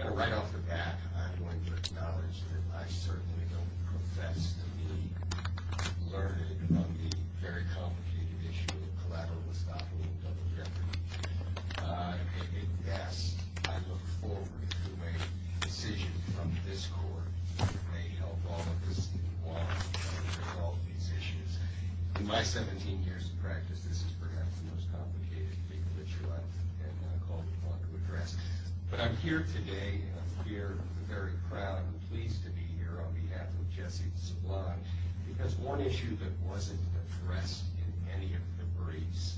Right off the bat, I'm going to acknowledge that I certainly don't profess to be learned on the very complicated issue of collateral estoppel and double jeopardy. At best, I look forward to a decision from this Court that may help all of us in Guam to resolve these issues. In my 17 years of practice, this is perhaps the most complicated legal issue I've been called upon to address. But I'm here today and I'm here with a very proud and pleased to be here on behalf of Jesse Sablan. Because one issue that wasn't addressed in any of the briefs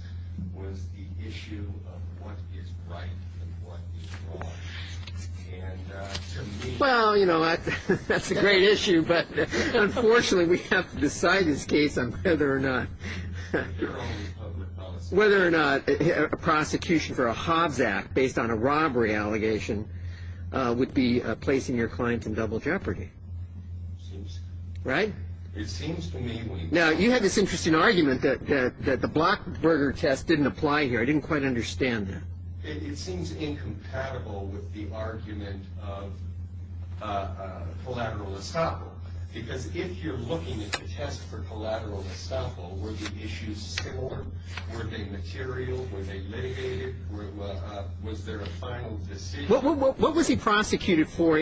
was the issue of what is right and what is wrong. Well, you know, that's a great issue. But unfortunately, we have to decide this case on whether or not a prosecution for a Hobbs Act based on a robbery allegation would be placing your client in double jeopardy. Right? Now, you had this interesting argument that the Blackberger test didn't apply here. I didn't quite understand that. It seems incompatible with the argument of collateral estoppel. Because if you're looking at the test for collateral estoppel, were the issues similar? Were they material? Were they leviated? Was there a final decision? What was he prosecuted for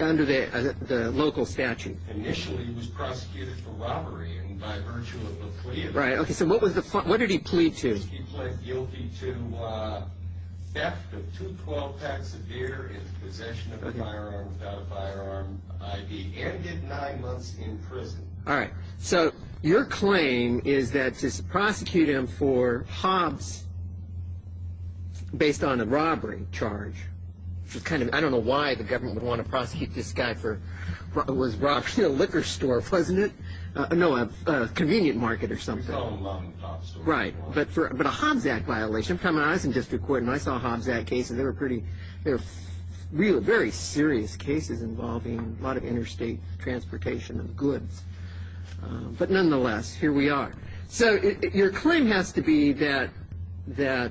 under the local statute? Initially, he was prosecuted for robbery and by virtue of a plea. Right. Okay. So what did he plead to? He pleaded guilty to theft of two 12-packs of beer in possession of a firearm without a firearm ID and did nine months in prison. All right. So your claim is that to prosecute him for Hobbs based on a robbery charge was kind of ‑‑ I don't know why the government would want to prosecute this guy for ‑‑ it was a liquor store, wasn't it? No, a convenient market or something. Right. But a Hobbs Act violation. I was in district court and I saw Hobbs Act cases. They were pretty ‑‑ they were real, very serious cases involving a lot of interstate transportation of goods. But nonetheless, here we are. So your claim has to be that the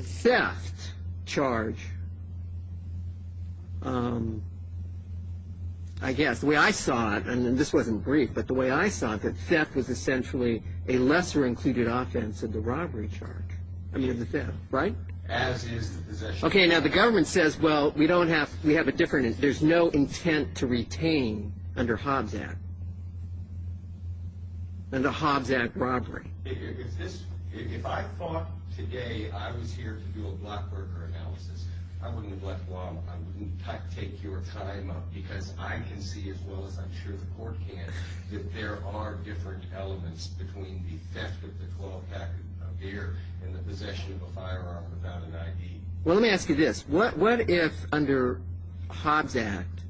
theft charge, I guess, the way I saw it, and this wasn't brief, but the way I saw it, that theft was essentially a lesser included offense in the robbery charge. I mean, the theft, right? As is the possession. Okay. Now, the government says, well, we don't have ‑‑ we have a different ‑‑ there's no intent to retain under Hobbs Act. Under Hobbs Act robbery. If this ‑‑ if I thought today I was here to do a blockburger analysis, I wouldn't have left long. I wouldn't take your time up because I can see, as well as I'm sure the court can, that there are different elements between the theft of the 12-pack of beer and the possession of a firearm without an ID. Well, let me ask you this. What if under Hobbs Act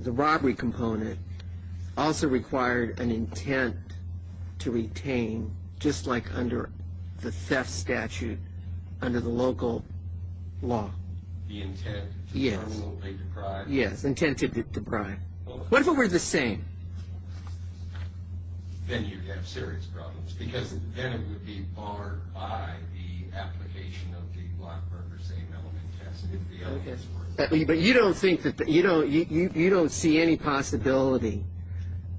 the robbery component also required an intent to retain, just like under the theft statute, under the local law? The intent to permanently deprive? Yes, intent to deprive. What if it were the same? Then you'd have serious problems because then it would be barred by the application of the blockburger same element test. Okay. But you don't think that ‑‑ you don't see any possibility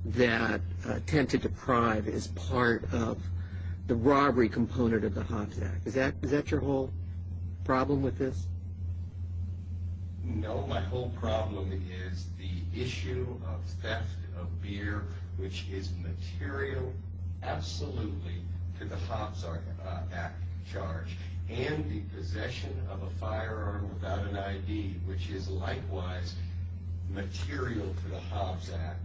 that intent to deprive is part of the robbery component of the Hobbs Act. Is that your whole problem with this? No. My whole problem is the issue of theft of beer, which is material absolutely to the Hobbs Act charge, and the possession of a firearm without an ID, which is likewise material to the Hobbs Act.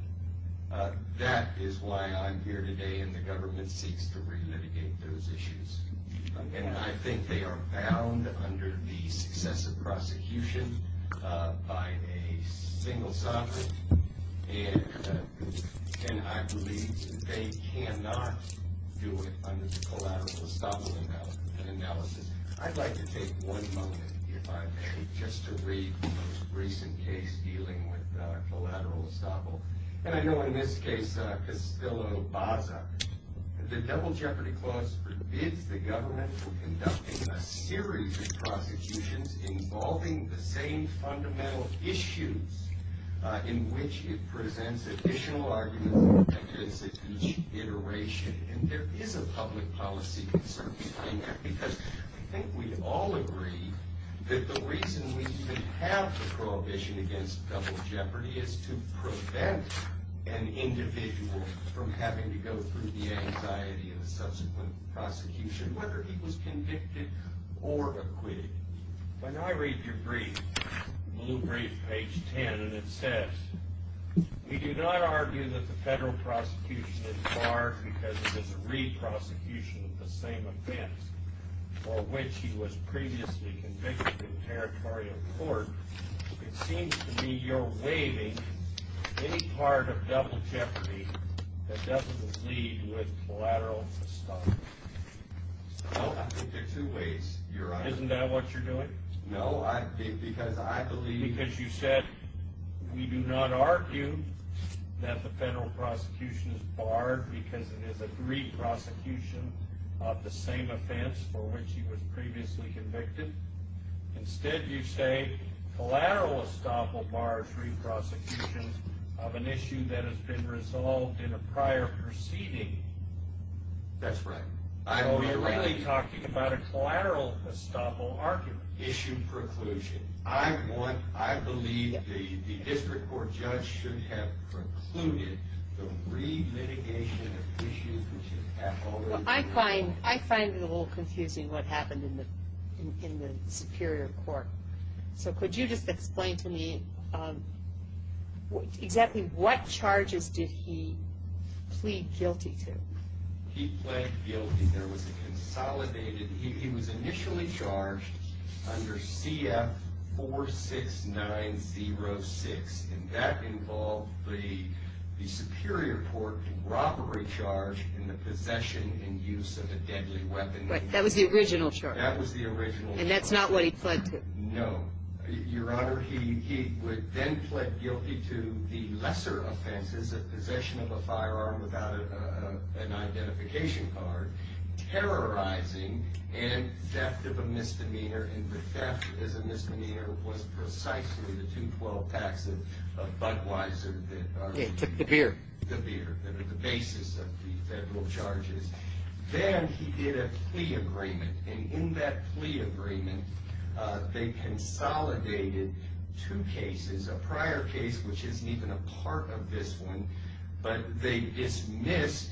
That is why I'm here today and the government seeks to relitigate those issues. And I think they are bound under the successive prosecution by a single sovereign, and I believe they cannot do it under the collateral estoppel analysis. I'd like to take one moment, if I may, just to read the most recent case dealing with collateral estoppel. And I know in this case, Castillo-Baza, the double jeopardy clause forbids the government from conducting a series of prosecutions involving the same fundamental issues in which it presents additional arguments for the subsequent iteration. And there is a public policy concern because I think we all agree that the reason we have the prohibition against double jeopardy is to prevent an individual from having to go through the anxiety of the subsequent prosecution, whether he was convicted or acquitted. When I read your brief, a little brief, page 10, and it says, we do not argue that the federal prosecution is barred because it is a re-prosecution of the same events for which he was previously convicted in territorial court. It seems to me you're waiving any part of double jeopardy that doesn't lead with collateral estoppel. Well, I think there are two ways, Your Honor. Isn't that what you're doing? No, because I believe... Because you said, we do not argue that the federal prosecution is barred because it is a re-prosecution of the same events for which he was previously convicted. Instead, you say collateral estoppel bars re-prosecutions of an issue that has been resolved in a prior proceeding. That's right. So you're really talking about a collateral estoppel argument. Issue preclusion. I want, I believe the district court judge should have precluded the re-litigation of issues... Well, I find it a little confusing what happened in the Superior Court. So could you just explain to me exactly what charges did he plead guilty to? He pled guilty. There was a consolidated... He was initially charged under CF-46906, and that involved the Superior Court robbery charge in the possession and use of a deadly weapon. Right. That was the original charge. That was the original charge. And that's not what he pled to. No. Your Honor, he then pled guilty to the lesser offenses of possession of a firearm without an identification card, terrorizing, and theft of a misdemeanor. And the theft as a misdemeanor was precisely the 212 packs of Budweiser that are... The beer. The beer, that are the basis of the federal charges. Then he did a plea agreement, and in that plea agreement, they consolidated two cases. A prior case, which isn't even a part of this one, but they dismissed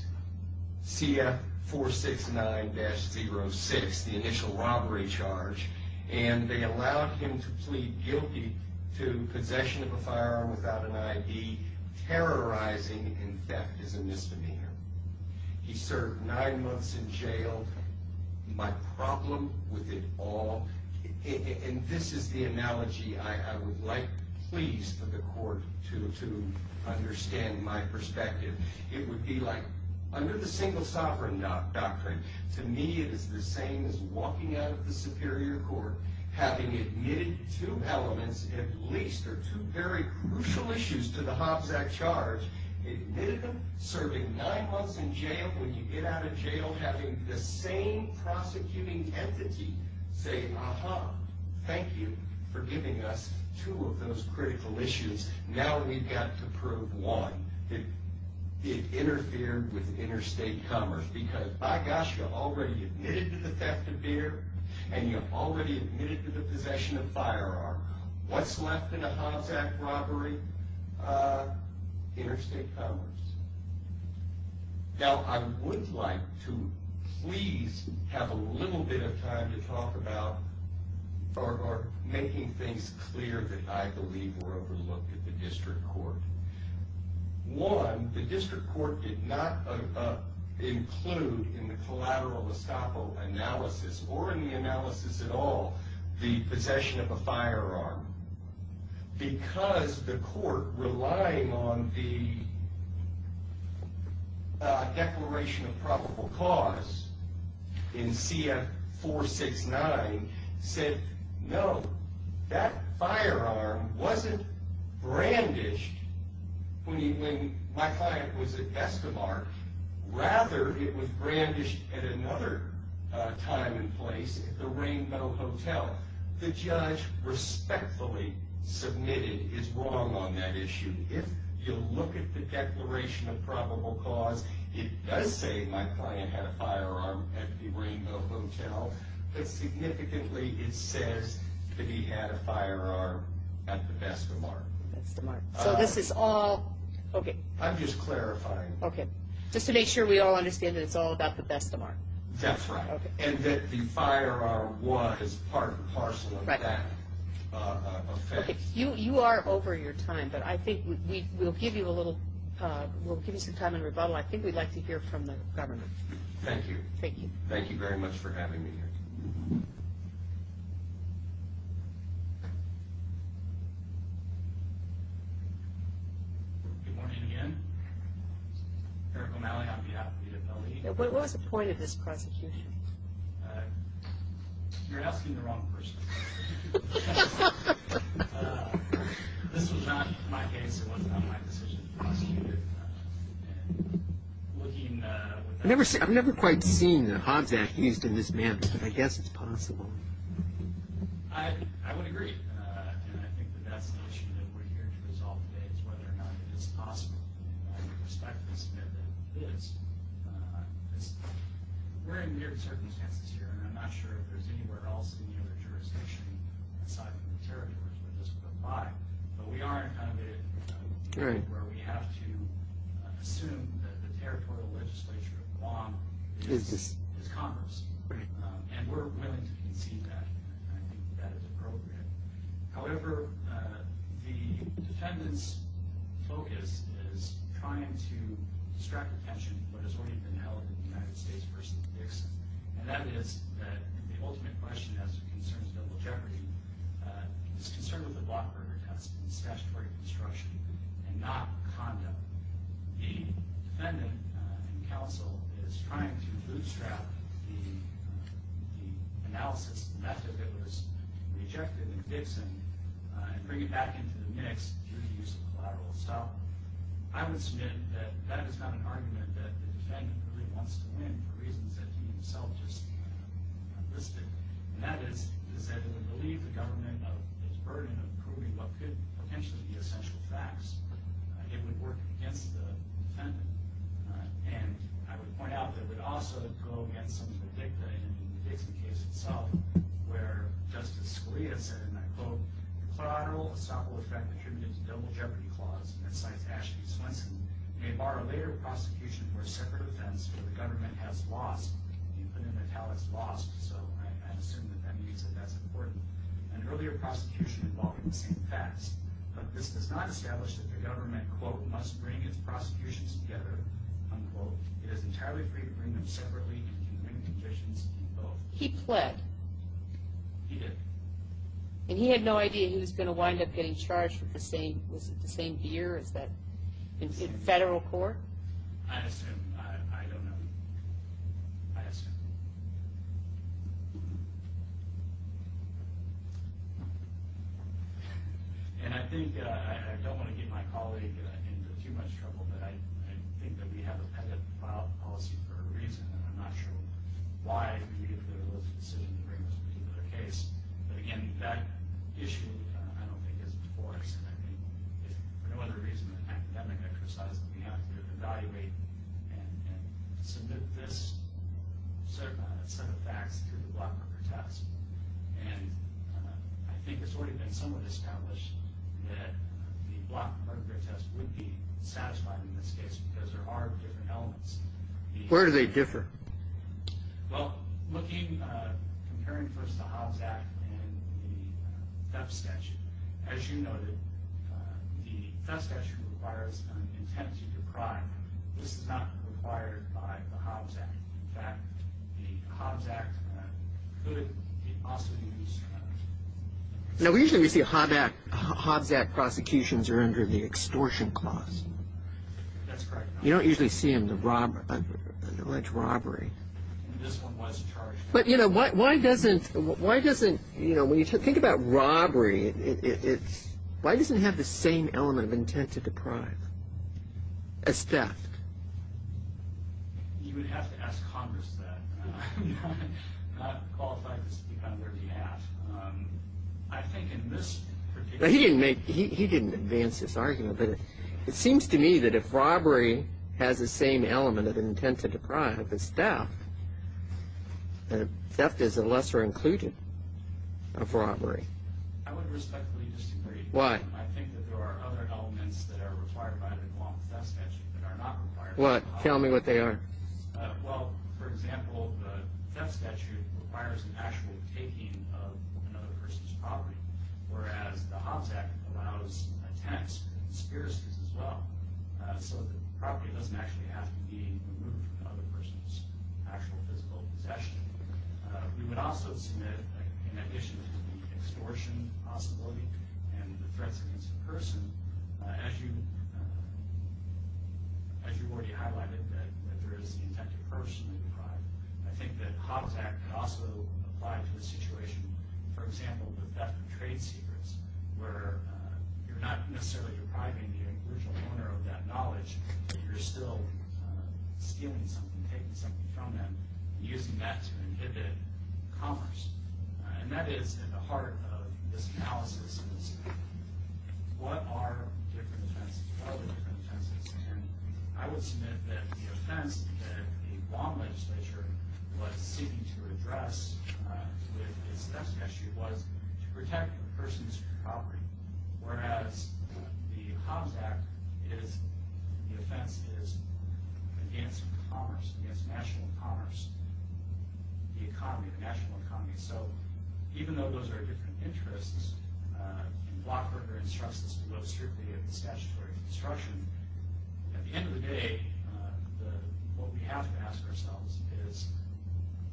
CF-46906, the initial robbery charge, and they allowed him to plead guilty to possession of a firearm without an ID, terrorizing, and theft as a misdemeanor. He served nine months in jail. My problem with it all... And this is the analogy I would like, please, for the Court to understand my perspective. It would be like, under the Single Sovereign Doctrine, to me it is the same as walking out of the Superior Court, having admitted two elements, at least, or two very crucial issues to the Hobbs Act charge, admitted them, serving nine months in jail. When you get out of jail, having the same prosecuting entity say, Aha, thank you for giving us two of those critical issues. Now we've got to prove one. It interfered with interstate commerce because, by gosh, you already admitted to the theft of beer, and you already admitted to the possession of firearm. What's left in a Hobbs Act robbery? Interstate commerce. Now I would like to, please, have a little bit of time to talk about, or making things clear that I believe were overlooked at the District Court. One, the District Court did not include in the collateral estoppel analysis, or in the analysis at all, the possession of a firearm. Because the Court, relying on the Declaration of Probable Cause in CF 469, said, No, that firearm wasn't brandished when my client was at Estabark. Rather, it was brandished at another time and place, at the Rainbow Hotel. The judge respectfully submitted his wrong on that issue. If you look at the Declaration of Probable Cause, it does say my client had a firearm at the Rainbow Hotel, but significantly it says that he had a firearm at the Best of Mark. So this is all, okay. I'm just clarifying. Okay. Just to make sure we all understand that it's all about the Best of Mark. That's right. And that the firearm was part and parcel of that offense. Okay. You are over your time, but I think we'll give you some time in rebuttal. I think we'd like to hear from the government. Thank you. Thank you. Thank you very much for having me here. Thank you. Good morning again. Eric O'Malley on behalf of UW-LA. What was the point of this prosecution? You're asking the wrong person. This was not my case. It was not my decision to prosecute it. I've never quite seen the HODS Act used in this manner, but I guess it's possible. I would agree. And I think that that's the issue that we're here to resolve today, is whether or not it is possible. And I respectfully submit that it is. We're in weird circumstances here, and I'm not sure if there's anywhere else in the other jurisdiction outside of the territories where this would apply. But we are in kind of a situation where we have to assume that the territorial legislature of Guam is Congress, and we're willing to concede that. I think that is appropriate. However, the defendant's focus is trying to distract attention from what has already been held in the United States versus Dixon, and that is that the ultimate question as it concerns double jeopardy is concerned with the blockburger test and statutory construction and not conduct. The defendant in counsel is trying to bootstrap the analysis method that was rejected in Dixon and bring it back into the mix through the use of collateral. So I would submit that that is not an argument that the defendant really wants to win for reasons that he himself just listed. And that is, is that it would relieve the government of its burden of proving what could potentially be essential facts. It would work against the defendant. And I would point out that it would also go against some of the dicta in the Dixon case itself, where Justice Scalia said, and I quote, collateral assault will in fact contribute to double jeopardy clause. And it cites Ashley Swenson, may bar a later prosecution for a separate offense where the government has lost, the infinite metallic's lost. So I assume that that means that that's important. An earlier prosecution involving the same facts. But this does not establish that the government, quote, must bring its prosecutions together, unquote. It is entirely free to bring them separately and to bring conditions in both. He pled. He did. And he had no idea he was going to wind up getting charged with the same, was it the same year as that in federal court? I assume. I don't know. I assume. And I think, I don't want to get my colleague into too much trouble, but I think that we have a valid policy for a reason. I'm not sure why. Okay. Where do they differ? Looking, comparing first the Hobbs Act and the theft statute. As you noted, the theft statute requires an intent to deprive. This is not required by the Hobbs Act. In fact, the Hobbs Act could also use. Now, usually we see Hobbs Act prosecutions are under the extortion clause. That's correct. You don't usually see them, the alleged robbery. This one was charged. But, you know, why doesn't, you know, when you think about robbery, why doesn't it have the same element of intent to deprive as theft? You would have to ask Congress that. I'm not qualified to speak on their behalf. I think in this particular case. He didn't advance this argument, but it seems to me that if robbery has the same element of intent to deprive as theft, theft is a lesser inclusion of robbery. I would respectfully disagree. Why? I think that there are other elements that are required by the Hobbs theft statute that are not required. What? Tell me what they are. Well, for example, the theft statute requires an actual taking of another person's property, whereas the Hobbs Act allows attempts and conspiracies as well, so the property doesn't actually have to be removed from another person's actual physical possession. We would also submit, in addition to the extortion possibility and the threats against a person, as you've already highlighted, that there is the intent to personally deprive. I think that Hobbs Act could also apply to the situation, for example, with theft of trade secrets, where you're not necessarily depriving the original owner of that knowledge, but you're still stealing something, taking something from them, and using that to inhibit commerce. And that is at the heart of this analysis. What are different offenses? What are the different offenses? And I would submit that the offense that the Obama legislature was seeking to address with its theft statute was to protect a person's property, whereas the Hobbs Act, the offense is against commerce, against national commerce, the economy, the national economy. So even though those are different interests, and Blockberger instructs us to look strictly at the statutory construction, at the end of the day, what we have to ask ourselves is,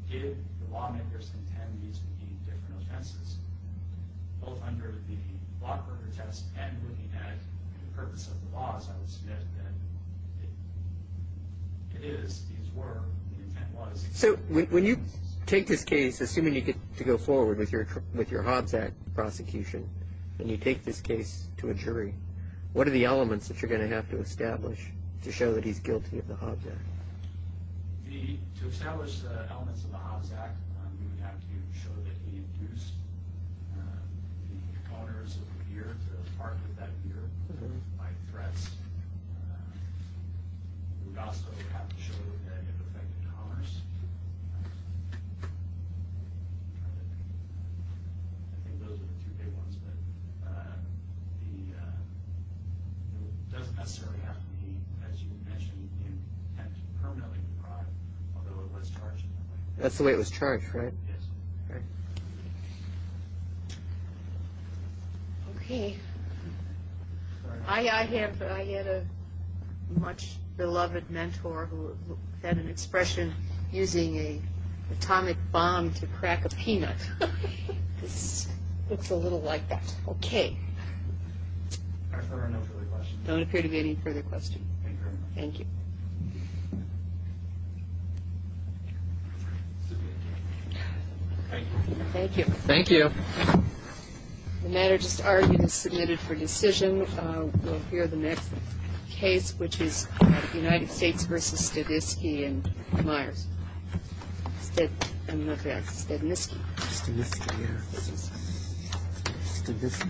did the lawmakers intend these to be different offenses? Both under the Blockberger test and looking at the purpose of the laws, I would submit that it is, these were, the intent was. So when you take this case, assuming you get to go forward with your Hobbs Act prosecution, and you take this case to a jury, what are the elements that you're going to have to establish to show that he's guilty of the Hobbs Act? The, to establish the elements of the Hobbs Act, we would have to show that he abused the owners of the beer, the apartment that beer, by threats. We would also have to show that it affected commerce. I think those are the two big ones. That's the way it was charged, right? Okay. I had a much beloved mentor who had an expression, using an atomic bomb to crack a peanut. It's a little like that. Okay. There are no further questions. There don't appear to be any further questions. Thank you very much. Thank you. Thank you. Thank you. Thank you. The matter just argued is submitted for decision. We'll hear the next case, which is United States v. Stavisky and Myers. Stavisky. Stavisky, yeah. Stavisky.